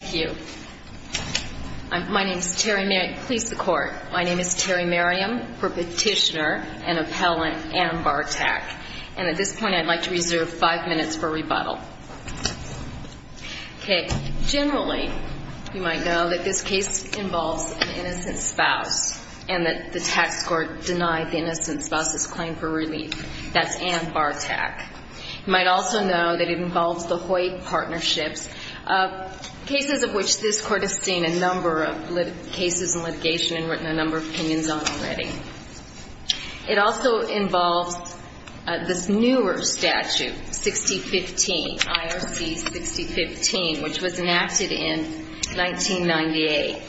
Terry Merriam v. Petitioner & Appellant Ann Bartak This court has seen a number of cases in litigation and written a number of opinions on them already. It also involves this newer statute, 6015, IRC 6015, which was enacted in 1998,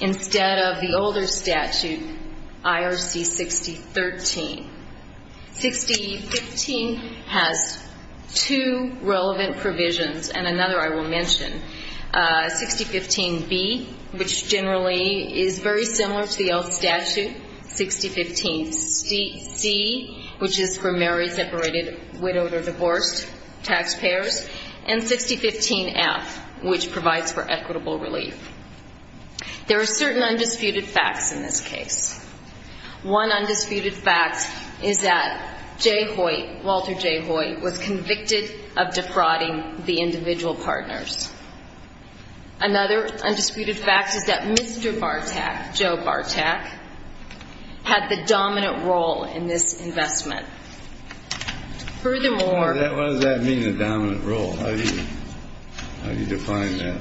instead of the older statute, IRC 6013. 6015 has two relevant provisions, and another I will mention. 6015B, which generally is very similar to the old statute. 6015C, which is for married, separated, widowed, or divorced taxpayers. And 6015F, which provides for equitable relief. There are certain undisputed facts in this case. One undisputed fact is that Jay Hoyt, Walter Jay Hoyt, was convicted of defrauding the individual partners. Another undisputed fact is that Mr. Bartak, Joe Bartak, had the dominant role in this investment. What does that mean, the dominant role? How do you define that?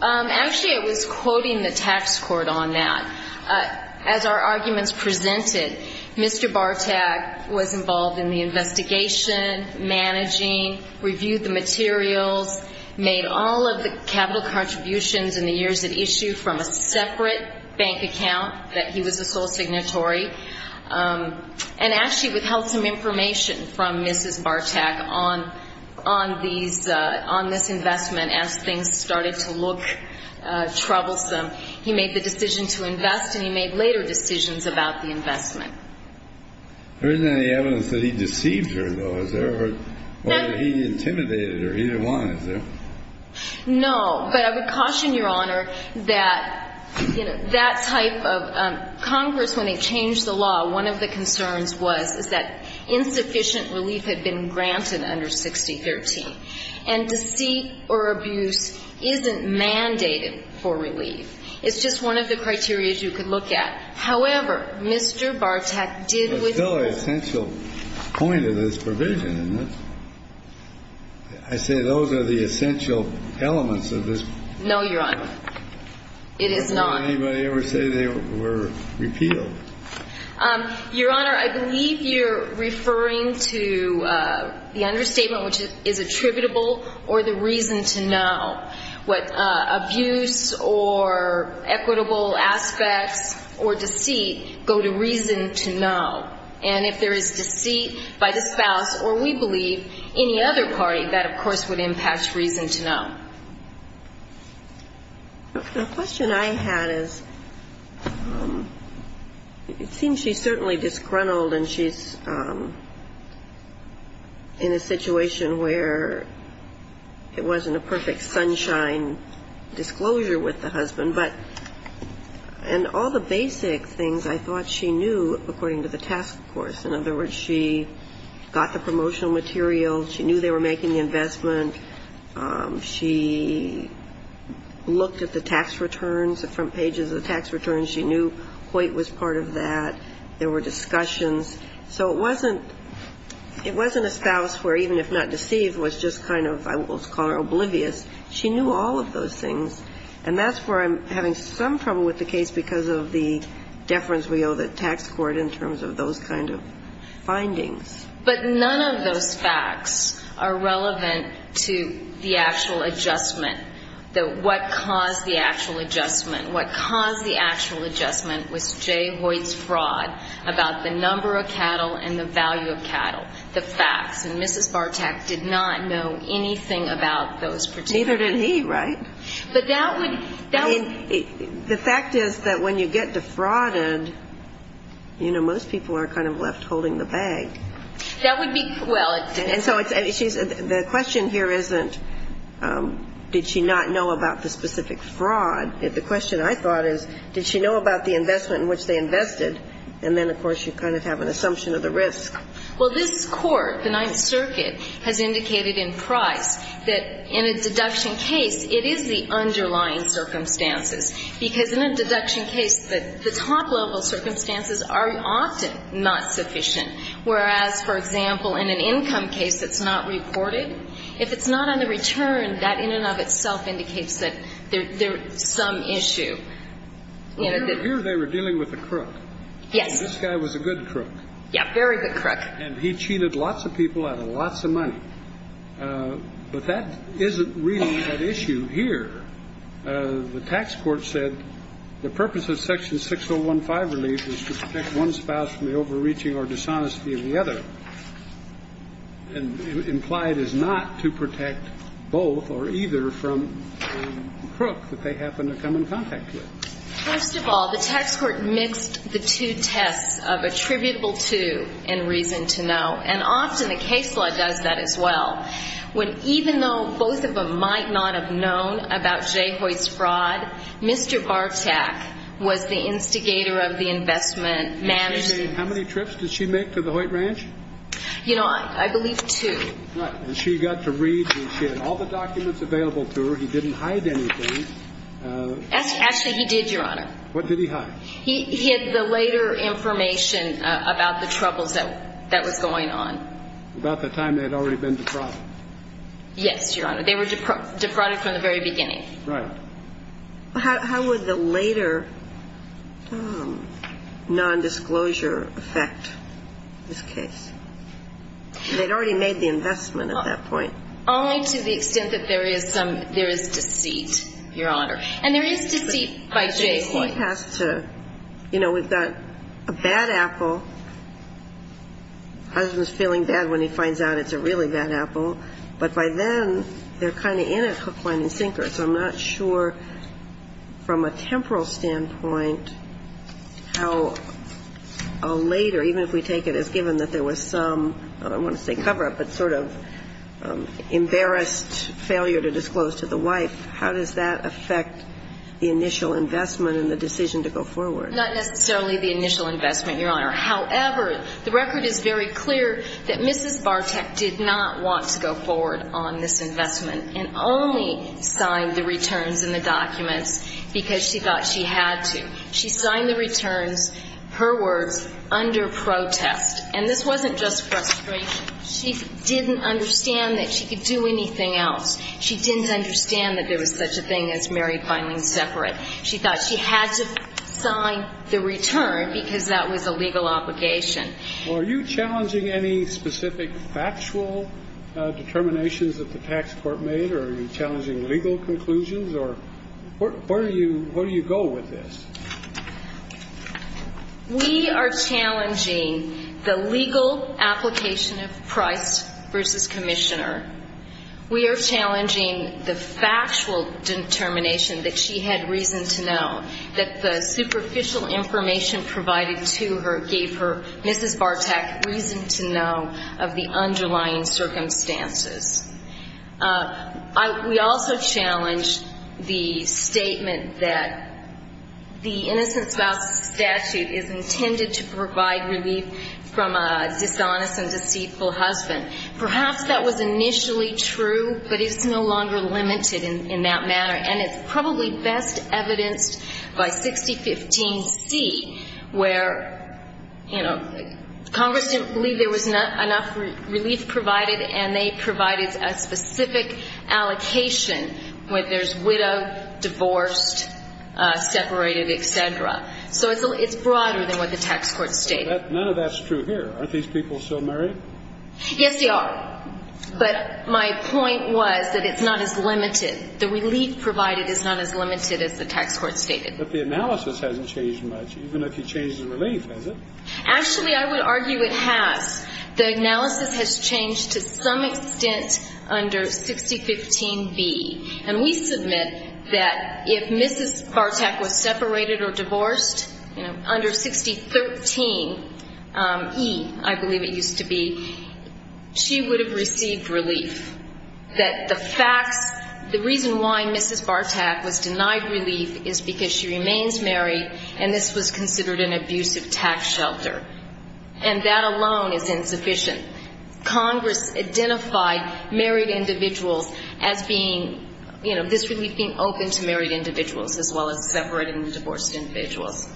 Actually, I was quoting the tax court on that. As our arguments presented, Mr. Bartak was involved in the investigation, managing, reviewed the materials, made all of the capital contributions in the years at issue from a separate bank account that he was a sole signatory. And actually withheld some information from Mrs. Bartak on this investment as things started to look troublesome. He made the decision to invest, and he made later decisions about the investment. There isn't any evidence that he deceived her, though, is there? Or that he intimidated her? He didn't want to, is there? No. But I would caution Your Honor that, you know, that type of – Congress, when it changed the law, one of the concerns was that insufficient relief had been granted under 6013. And deceit or abuse isn't mandated for relief. It's just one of the criterias you could look at. However, Mr. Bartak did withhold… But it's still an essential point of this provision, isn't it? I say those are the essential elements of this provision. No, Your Honor. It is not. Did anybody ever say they were repealed? Your Honor, I believe you're referring to the understatement which is attributable or the reason to know. What abuse or equitable aspects or deceit go to reason to know. And if there is deceit by the spouse or, we believe, any other party, that, of course, would impact reason to know. The question I had is, it seems she's certainly disgruntled and she's in a situation where it wasn't a perfect sunshine disclosure with the husband, but – and all the basic things I thought she knew according to the task force. In other words, she got the promotional material. She knew they were making the investment. She looked at the tax returns, the front pages of the tax returns. She knew Hoyt was part of that. There were discussions. So it wasn't – it wasn't a spouse where, even if not deceived, was just kind of, I will call her oblivious. She knew all of those things. And that's where I'm having some trouble with the case because of the deference we owe the tax court in terms of those kind of findings. But none of those facts are relevant to the actual adjustment, what caused the actual adjustment. What caused the actual adjustment was Jay Hoyt's fraud about the number of cattle and the value of cattle, the facts. And Mrs. Bartak did not know anything about those particular things. Neither did he, right? But that would – that would – I mean, the fact is that when you get defrauded, you know, most people are kind of left holding the bag. That would be – well, it – And so the question here isn't, did she not know about the specific fraud? The question I thought is, did she know about the circumstances? Because in a deduction case, the top-level circumstances are often not sufficient, whereas, for example, in an income case that's not reported, if it's not on the return, that in and of itself indicates that there's some issue. Here they were dealing with a crook. Yes. This guy was a good crook. Yeah, very good crook. And he cheated lots of people out of lots of money. But that isn't really that issue here. The tax court said the purpose of Section 6015 relief is to protect one spouse from the overreaching or dishonesty of the other. And implied is not to protect both or either from the crook that they happen to come in contact with. First of all, the tax court mixed the two tests of attributable to and reason to know, and often the case law does that as well, when even though both of them might not have known about Jay Hoyt's fraud, Mr. Bartak was the instigator of the investment and managed it. How many trips did she make to the Hoyt ranch? You know, I believe two. Right. And she got to read and she had all the documents available to her. And she was able to find out that he had a criminal record and that he had a criminal record and that he didn't hide anything. Actually, he did, Your Honor. What did he hide? He had the later information about the troubles that was going on. And there is deceit, Your Honor. And there is deceit by Jay Hoyt. You know, we've got a bad apple. Husband's feeling bad when he finds out it's a really bad apple. But by then, they're kind of in it hook, line, and sinker. So I'm not sure from a temporal standpoint how a later, even if we take it as given that there was some, I don't want to say cover-up, but sort of embarrassed failure to disclose to the wife, how does that affect the initial investment in the decision to go forward? Not necessarily the initial investment, Your Honor. However, the record is very clear that Mrs. Bartek did not want to go forward on this investment and only signed the returns and the documents because she thought she had to. She signed the returns, her words, under protest. And this wasn't just frustration. She didn't understand that she could do anything else. She didn't understand that there was such a thing as married, binding, separate. She thought she had to sign the return because that was a legal obligation. Well, are you challenging any specific factual determinations that the tax court made, or are you challenging legal conclusions? Or where do you go with this? We are challenging the legal application of price versus commissioner. We are challenging the factual determination that she had reason to know, that the superficial information provided to her gave her, Mrs. Bartek, reason to know of the underlying circumstances. The Innocent Spouse Statute is intended to provide relief from a dishonest and deceitful husband. Perhaps that was initially true, but it's no longer limited in that manner. And it's probably best evidenced by 6015C, where, you know, Congress didn't believe there was enough relief provided, and they provided a specific allocation, whether it's widowed, divorced, separated, et cetera. So it's broader than what the tax court stated. None of that's true here. Aren't these people still married? Yes, they are. But my point was that it's not as limited. The relief provided is not as limited as the tax court stated. But the analysis hasn't changed much, even if you change the relief, has it? Actually, I would argue it has. The analysis has changed to some extent under 6015B. And we submit that if Mrs. Bartek was separated or divorced, you know, under 6013E, I believe it used to be, she would have received relief, that the facts, the reason why Mrs. Bartek was denied relief is because she remains married, and this was considered an abusive tax shelter. And that alone is insufficient. Congress identified married individuals as being, you know, this relief being open to married individuals as well as separating the divorced individuals.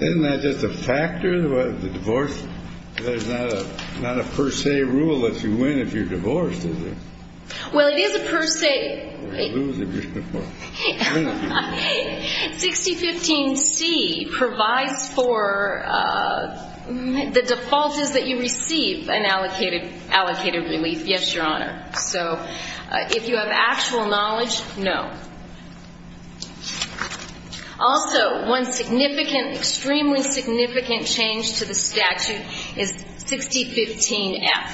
Isn't that just a factor of the divorce? There's not a per se rule that you win if you're divorced, is there? Well, it is a per se. 6015C provides for the default is that you receive an allocated relief, yes, Your Honor. So if you have actual knowledge, no. Also, one significant, extremely significant change to the statute is 6015F.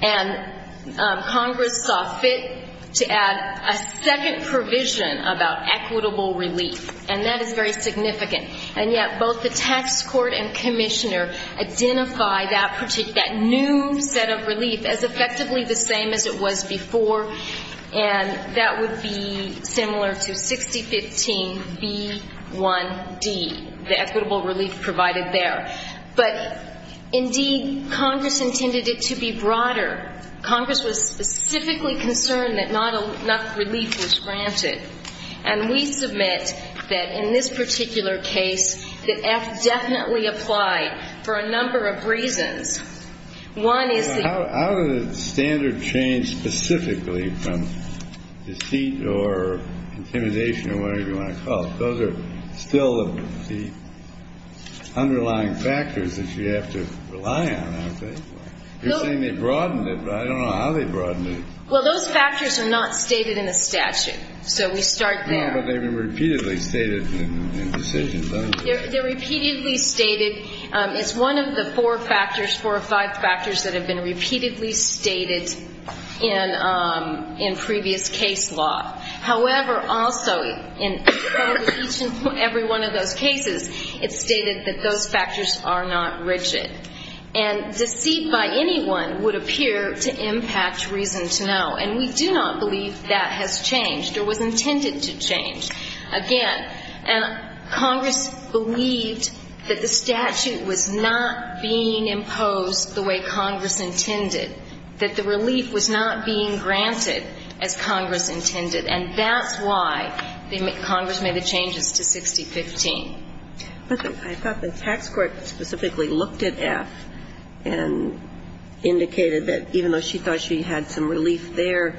And Congress saw fit to add a second provision about equitable relief, and that is very significant. And yet both the tax court and commissioner identify that new set of relief as effectively the same as it was before, and that would be similar to 6015B1D, the equitable relief provided there. But, indeed, Congress intended it to be broader. Congress was specifically concerned that not enough relief was granted. And we submit that in this particular case, that F definitely applied for a number of reasons. One is the ---- How does the standard change specifically from deceit or intimidation or whatever you want to call it? Those are still the underlying factors that you have to rely on, aren't they? You're saying they broadened it, but I don't know how they broadened it. Well, those factors are not stated in the statute, so we start there. No, but they've been repeatedly stated in decisions, haven't they? They're repeatedly stated. It's one of the four factors, four or five factors, that have been repeatedly stated in previous case law. However, also in each and every one of those cases, it's stated that those factors are not rigid. And deceit by anyone would appear to impact reason to know, and we do not believe that has changed or was intended to change. Again, Congress believed that the statute was not being imposed the way Congress intended, that the relief was not being granted as Congress intended, and that's why Congress made the changes to 6015. But I thought the tax court specifically looked at F and indicated that even though she thought she had some relief there,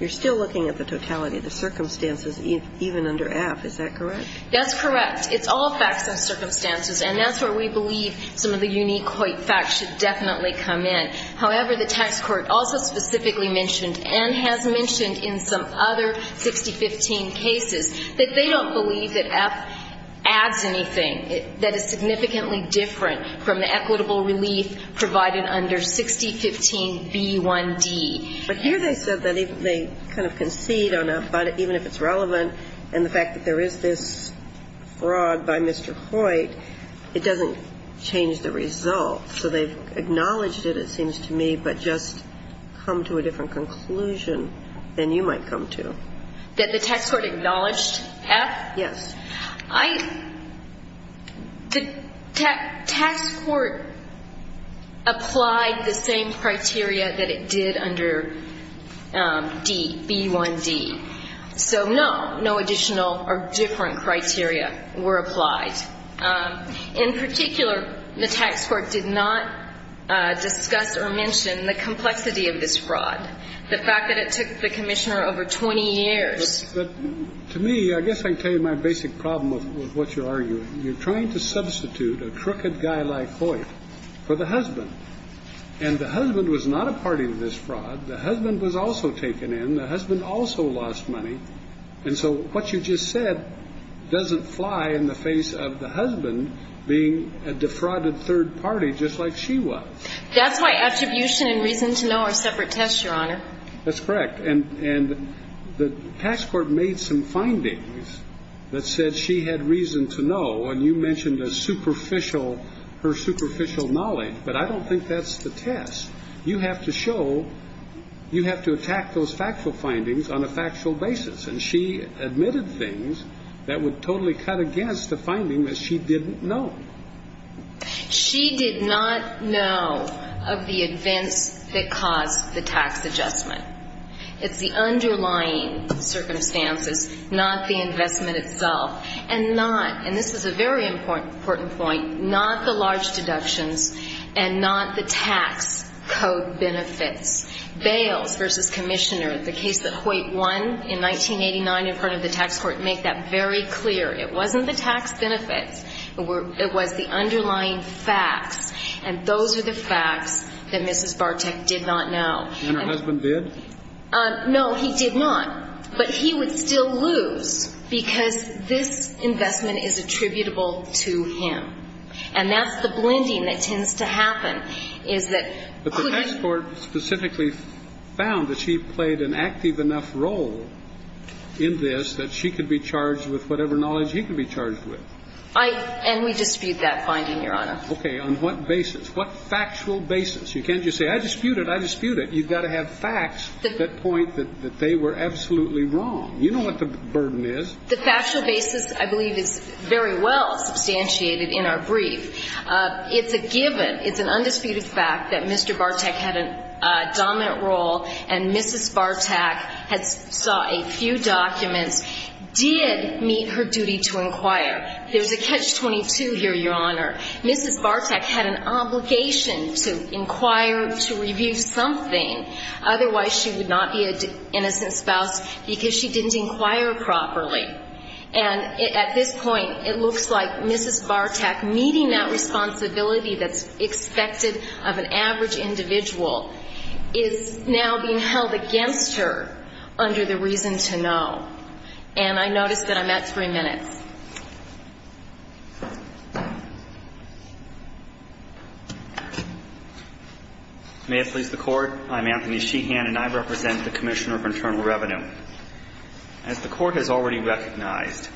you're still looking at the totality of the circumstances even under F. Is that correct? That's correct. It's all facts and circumstances, and that's where we believe some of the unique Hoyt facts should definitely come in. However, the tax court also specifically mentioned, and has mentioned in some other 6015 cases, that they don't believe that F adds anything that is significantly different from the equitable relief provided under 6015b1d. But here they said that they kind of concede on a, even if it's relevant, and the fact that there is this fraud by Mr. Hoyt, it doesn't change the result. So they've acknowledged it, it seems to me, but just come to a different conclusion than you might come to. That the tax court acknowledged F? Yes. The tax court applied the same criteria that it did under D, b1d. So, no, no additional or different criteria were applied. In particular, the tax court did not discuss or mention the complexity of this fraud, the fact that it took the commissioner over 20 years. But to me, I guess I can tell you my basic problem with what you're arguing. You're trying to substitute a crooked guy like Hoyt for the husband. And the husband was not a party to this fraud. The husband was also taken in. The husband also lost money. And so what you just said doesn't fly in the face of the husband being a defrauded third party just like she was. That's why attribution and reason to know are separate tests, Your Honor. That's correct. And the tax court made some findings that said she had reason to know. And you mentioned a superficial, her superficial knowledge. But I don't think that's the test. You have to show, you have to attack those factual findings on a factual basis. And she admitted things that would totally cut against the finding that she didn't know. She did not know of the events that caused the tax adjustment. It's the underlying circumstances, not the investment itself, and not, and this is a very important point, not the large deductions and not the tax code benefits. Bales v. Commissioner, the case that Hoyt won in 1989 in front of the tax court, make that very clear. It wasn't the tax benefits. It was the underlying facts. And those are the facts that Mrs. Bartek did not know. And her husband did? No, he did not. But he would still lose because this investment is attributable to him. And that's the blending that tends to happen, is that couldn't he? But the tax court specifically found that she played an active enough role in this that she could be charged with whatever knowledge he could be charged with. I, and we dispute that finding, Your Honor. Okay. On what basis? What factual basis? You can't just say, I dispute it, I dispute it. You've got to have facts that point that they were absolutely wrong. You know what the burden is. The factual basis, I believe, is very well substantiated in our brief. It's a given, it's an undisputed fact that Mr. Bartek had a dominant role and Mrs. Bartek saw a few documents, did meet her duty to inquire. There's a catch-22 here, Your Honor. Mrs. Bartek had an obligation to inquire, to review something, otherwise she would not be an innocent spouse because she didn't inquire properly. And at this point, it looks like Mrs. Bartek meeting that responsibility that's expected of an average individual is now being held against her under the reason to know. And I notice that I'm at three minutes. May it please the Court. I'm Anthony Sheehan and I represent the Commissioner of Internal Revenue. As the Court has already recognized,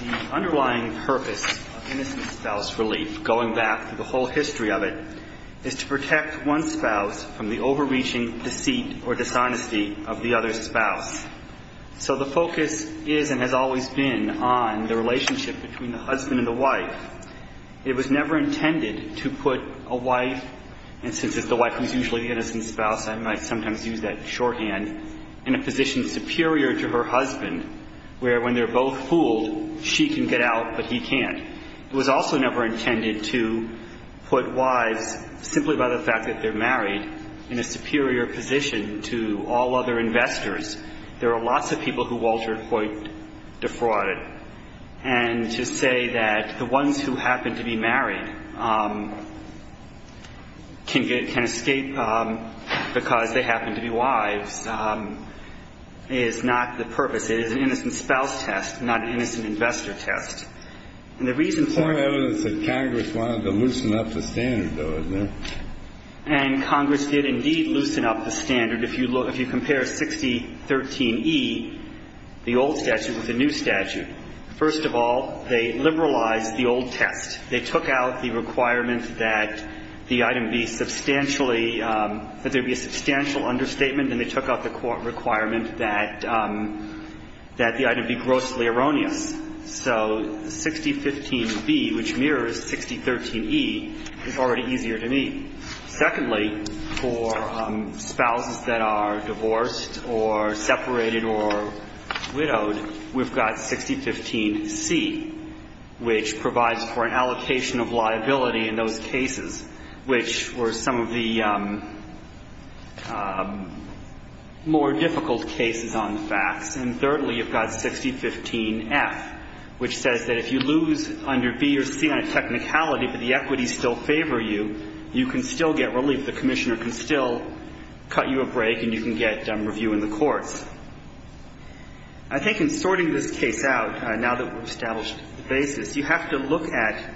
the underlying purpose of innocent spouse relief, going back to the whole history of it, is to protect one spouse from the overreaching deceit or dishonesty of the other spouse. So the focus is and has always been on the relationship between the husband and the wife. It was never intended to put a wife, and since it's the wife who's usually the innocent spouse, I might sometimes use that shorthand, in a position superior to her husband where when they're both fooled, she can get out but he can't. It was also never intended to put wives, simply by the fact that they're married, in a superior position to all other investors. There are lots of people who Walter Hoyt defrauded. And to say that the ones who happen to be married can escape because they happen to be wives is not the purpose. It is an innocent spouse test, not an innocent investor test. And the reason for it is that Congress wanted to loosen up the standard, though, isn't it? And Congress did indeed loosen up the standard. If you look, if you compare 6013e, the old statute with the new statute, first of all, they liberalized the old test. They took out the requirement that the item be substantially, that there be a substantial understatement, and they took out the requirement that the item be grossly erroneous. So 6015b, which mirrors 6013e, is already easier to meet. Secondly, for spouses that are divorced or separated or widowed, we've got 6015c, which provides for an allocation of liability in those cases, which were some of the more difficult cases on the facts. And thirdly, you've got 6015f, which says that if you lose under b or c on a technicality but the equities still favor you, you can still get relief. The commissioner can still cut you a break and you can get review in the courts. I think in sorting this case out, now that we've established the basis, you have to look at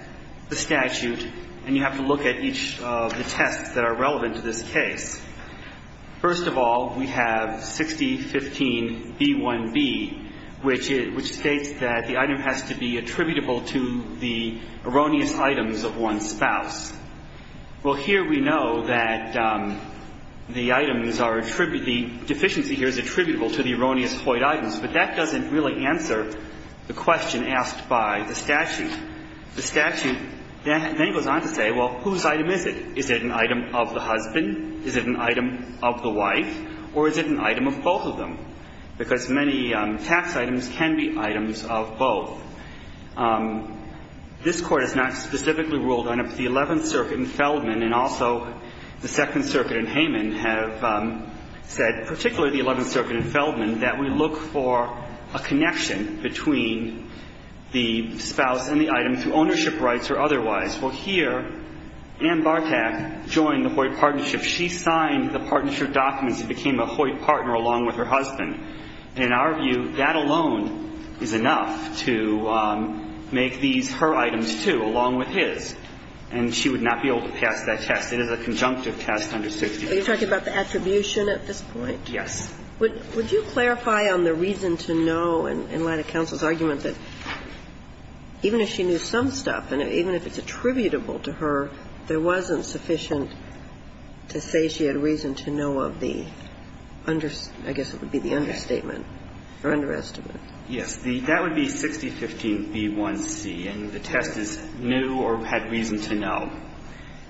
the statute and you have to look at each of the tests that are relevant to this case. First of all, we have 6015b1b, which states that the item has to be attributable to the erroneous items of one's spouse. Well, here we know that the items are attributable, the deficiency here is attributable to the erroneous Hoyt items, but that doesn't really answer the question asked by the statute. The statute then goes on to say, well, whose item is it? Is it an item of the husband? Is it an item of the wife? Or is it an item of both of them? Because many tax items can be items of both. This Court has not specifically ruled on it, but the Eleventh Circuit in Feldman and also the Second Circuit in Hayman have said, particularly the Eleventh Circuit in Feldman, that we look for a connection between the spouse and the item through ownership rights or otherwise. Well, here, Ann Bartack joined the Hoyt partnership. She signed the partnership documents and became a Hoyt partner along with her husband. In our view, that alone is enough to make these her items, too, along with his. And she would not be able to pass that test. It is a conjunctive test under 60. Kagan. Are you talking about the attribution at this point? Yes. Would you clarify on the reason to no in light of counsel's argument that even if she knew some stuff, and even if it's attributable to her, there wasn't sufficient to say she had reason to no of the under – I guess it would be the understatement or underestimate? That would be 6015b1c. And the test is new or had reason to no.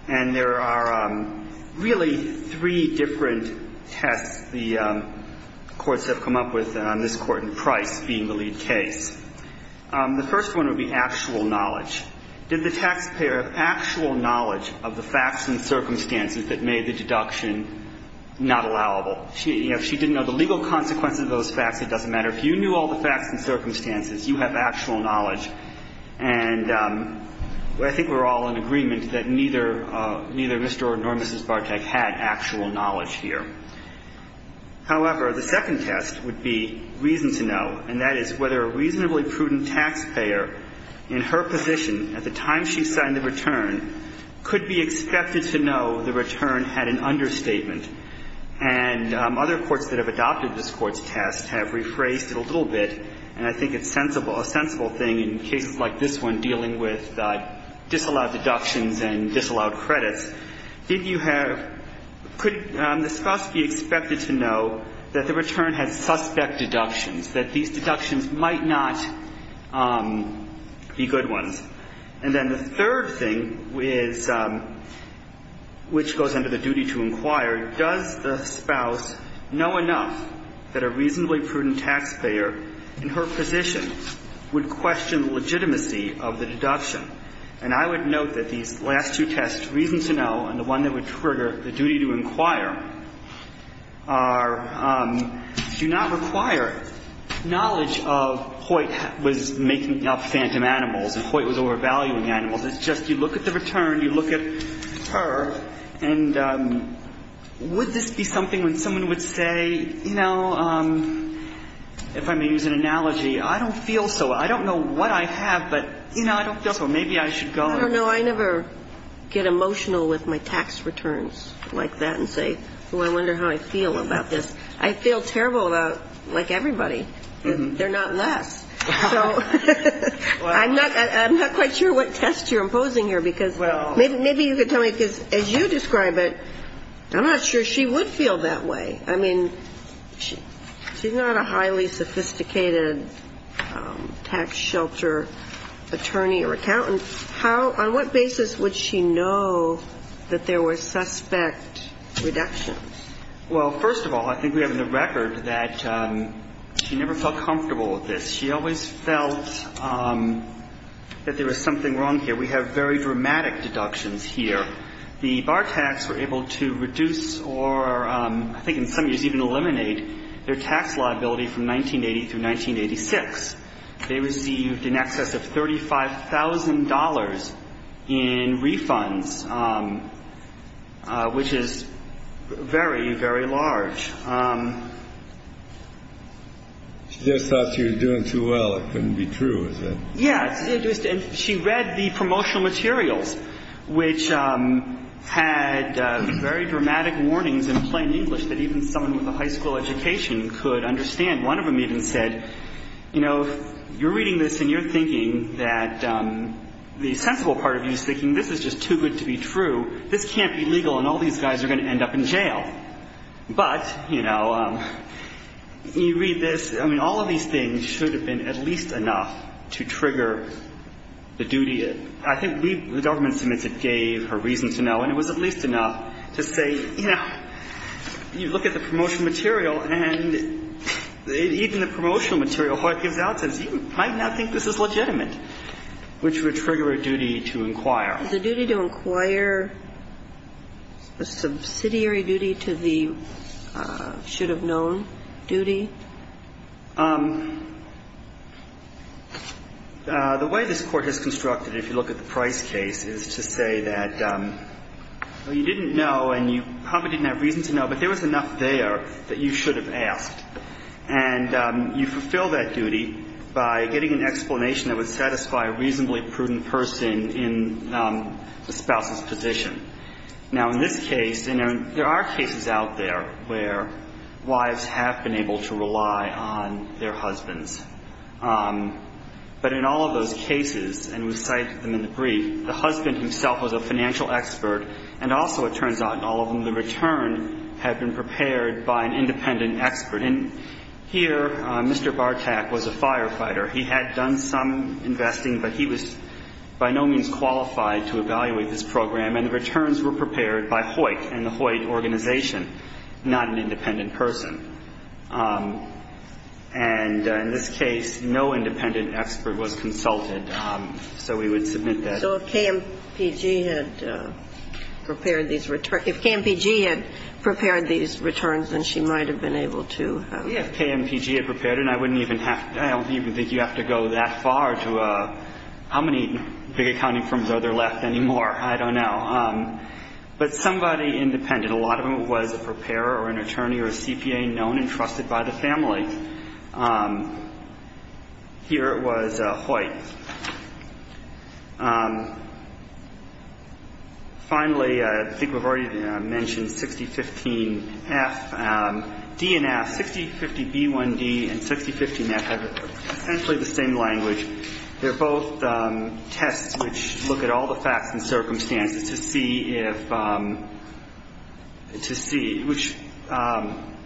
And there are really three different tests the courts have come up with on this court in Price being the lead case. The first one would be actual knowledge. Did the taxpayer have actual knowledge of the facts and circumstances that made the deduction not allowable? If she didn't know the legal consequences of those facts, it doesn't matter. If you knew all the facts and circumstances, you have actual knowledge. And I think we're all in agreement that neither Mr. or nor Mrs. Bartack had actual knowledge here. However, the second test would be reason to no, and that is whether a reasonably prudent taxpayer in her position at the time she signed the return could be expected to know the return had an understatement. And other courts that have adopted this Court's test have rephrased it a little bit, and I think it's a sensible thing in cases like this one dealing with disallowed deductions and disallowed credits. Did you have, could the spouse be expected to know that the return had suspect deductions, that these deductions might not be good ones? And then the third thing is, which goes under the duty to inquire, does the spouse know enough that a reasonably prudent taxpayer in her position would question the legitimacy of the deduction? And I would note that these last two tests, reason to no and the one that would trigger the duty to inquire, are, do not require knowledge of Hoyt was making up phantom animals and Hoyt was overvaluing animals. It's just you look at the return, you look at her, and would this be something when someone would say, you know, if I may use an analogy, I don't feel so. I don't know what I have, but, you know, I don't feel so. Maybe I should go and. I don't know. I never get emotional with my tax returns like that and say, oh, I wonder how I feel about this. I feel terrible about, like everybody, they're not less. So I'm not quite sure what test you're imposing here because maybe you could tell me, because as you describe it, I'm not sure she would feel that way. I mean, she's not a highly sophisticated tax shelter attorney or accountant and how, on what basis would she know that there were suspect reductions? Well, first of all, I think we have in the record that she never felt comfortable with this. She always felt that there was something wrong here. We have very dramatic deductions here. The bar tax were able to reduce or I think in some years even eliminate their tax liability from 1980 through 1986. They received in excess of $35,000 in refunds, which is very, very large. She just thought she was doing too well. It couldn't be true, is it? Yeah. And she read the promotional materials, which had very dramatic warnings in plain English that even someone with a high school education could understand. And one of them even said, you know, you're reading this and you're thinking that the sensible part of you is thinking this is just too good to be true. This can't be legal and all these guys are going to end up in jail. But, you know, you read this. I mean, all of these things should have been at least enough to trigger the duty. I think the government submits it gave her reason to know. And it was at least enough to say, you know, you look at the promotional material and even the promotional material, what it gives out says you might not think this is legitimate, which would trigger a duty to inquire. Is the duty to inquire a subsidiary duty to the should-have-known duty? The way this Court has constructed it, if you look at the Price case, is to say that you didn't know and you probably didn't have reason to know, but there was enough there that you should have asked. And you fulfill that duty by getting an explanation that would satisfy a reasonably prudent person in the spouse's position. Now, in this case, and there are cases out there where wives have been able to rely on their husbands. But in all of those cases, and we cited them in the brief, the husband himself was a financial expert. And also, it turns out in all of them, the return had been prepared by an independent expert. And here, Mr. Bartack was a firefighter. He had done some investing, but he was by no means qualified to evaluate this program. And the returns were prepared by Hoyt and the Hoyt organization, not an independent person. And in this case, no independent expert was consulted. So we would submit that. So if KMPG had prepared these returns, if KMPG had prepared these returns, then she might have been able to. Yes, if KMPG had prepared it. And I wouldn't even have to, I don't even think you have to go that far to how many big accounting firms are there left anymore. I don't know. But somebody independent, a lot of them was a preparer or an attorney or a CPA known and trusted by the family. Here it was Hoyt. Finally, I think we've already mentioned 6015F. D and F, 6050B1D and 6015F have essentially the same language. They're both tests which look at all the facts and circumstances to see if, to see which,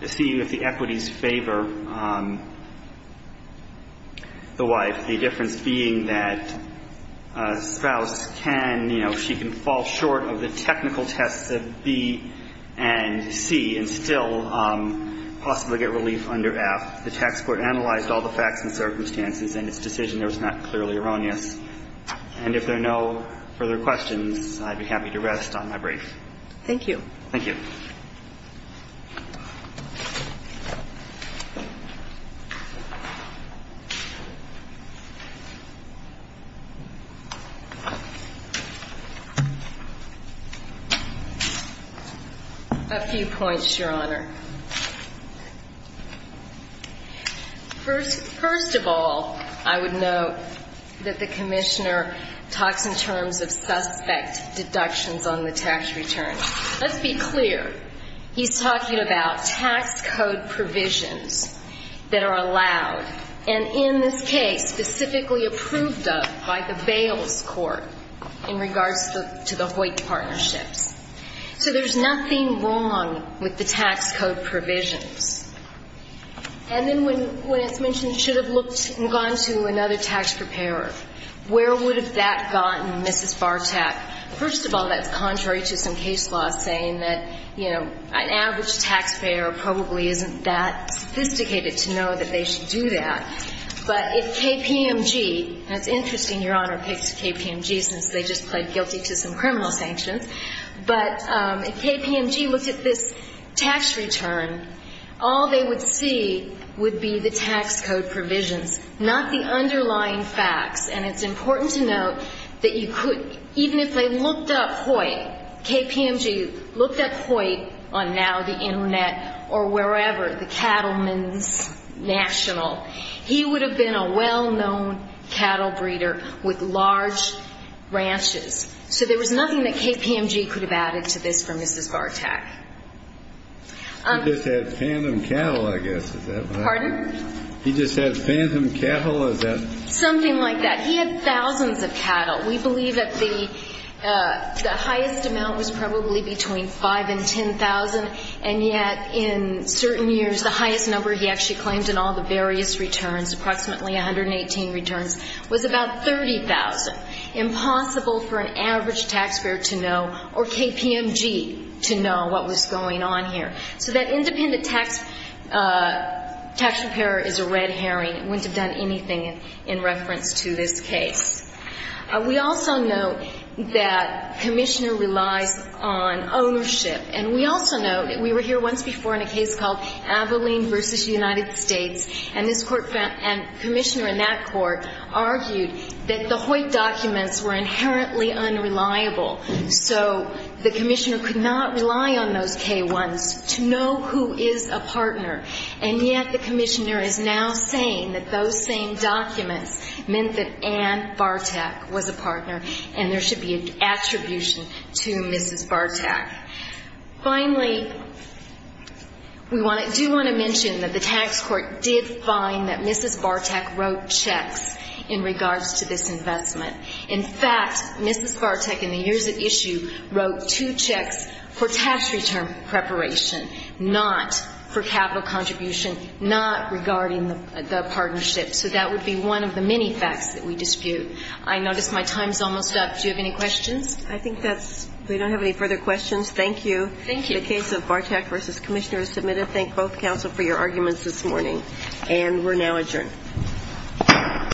seeing if the equities favor the wife. The difference being that spouse can, you know, she can fall short of the technical tests of B and C and still possibly get relief under F. The tax court analyzed all the facts and circumstances in its decision. It was not clearly erroneous. And if there are no further questions, I'd be happy to rest on my break. Thank you. Thank you. A few points, Your Honor. First of all, I would note that the Commissioner talks in terms of suspect deductions on the tax return. Let's be clear. He's talking about tax code provisions that are allowed and, in this case, specifically approved of by the Bales court in regards to the Hoyt partnerships. So there's nothing wrong with the tax code provisions. And then when it's mentioned should have looked and gone to another tax preparer, where would have that gotten Mrs. Bartak? First of all, that's contrary to some case laws saying that, you know, an average taxpayer probably isn't that sophisticated to know that they should do that. But if KPMG, and it's interesting Your Honor picked KPMG since they just pled guilty to some criminal sanctions, but if KPMG looked at this tax return, all they would see would be the tax code provisions, not the underlying facts. And it's important to note that you could, even if they looked up Hoyt, KPMG looked up Hoyt on now the Internet or wherever, the Cattlemen's National, he would have been a well-known cattle breeder with large ranches. So there was nothing that KPMG could have added to this for Mrs. Bartak. He just had phantom cattle, I guess. Pardon? He just had phantom cattle. Something like that. He had thousands of cattle. We believe that the highest amount was probably between 5,000 and 10,000. And yet, in certain years, the highest number he actually claimed in all the various returns, approximately 118 returns, was about 30,000. Impossible for an average taxpayer to know or KPMG to know what was going on here. So that independent tax preparer is a red herring. It wouldn't have done anything in reference to this case. We also note that Commissioner relies on ownership. And we also note, we were here once before in a case called Abilene v. United States, and this Court found, and Commissioner in that Court argued that the Hoyt documents were inherently unreliable. So the Commissioner could not rely on those K1s to know who is a partner. And yet the Commissioner is now saying that those same documents meant that Ann Bartak was a partner and there should be an attribution to Mrs. Bartak. Finally, we do want to mention that the tax court did find that Mrs. Bartak wrote checks in regards to this investment. In fact, Mrs. Bartak in the years at issue wrote two checks for tax return preparation, not for capital contribution, not regarding the partnership. So that would be one of the many facts that we dispute. I notice my time is almost up. Do you have any questions? I think that's, we don't have any further questions. Thank you. Thank you. The case of Bartak v. Commissioner is submitted. Thank both counsel for your arguments this morning. And we're now adjourned.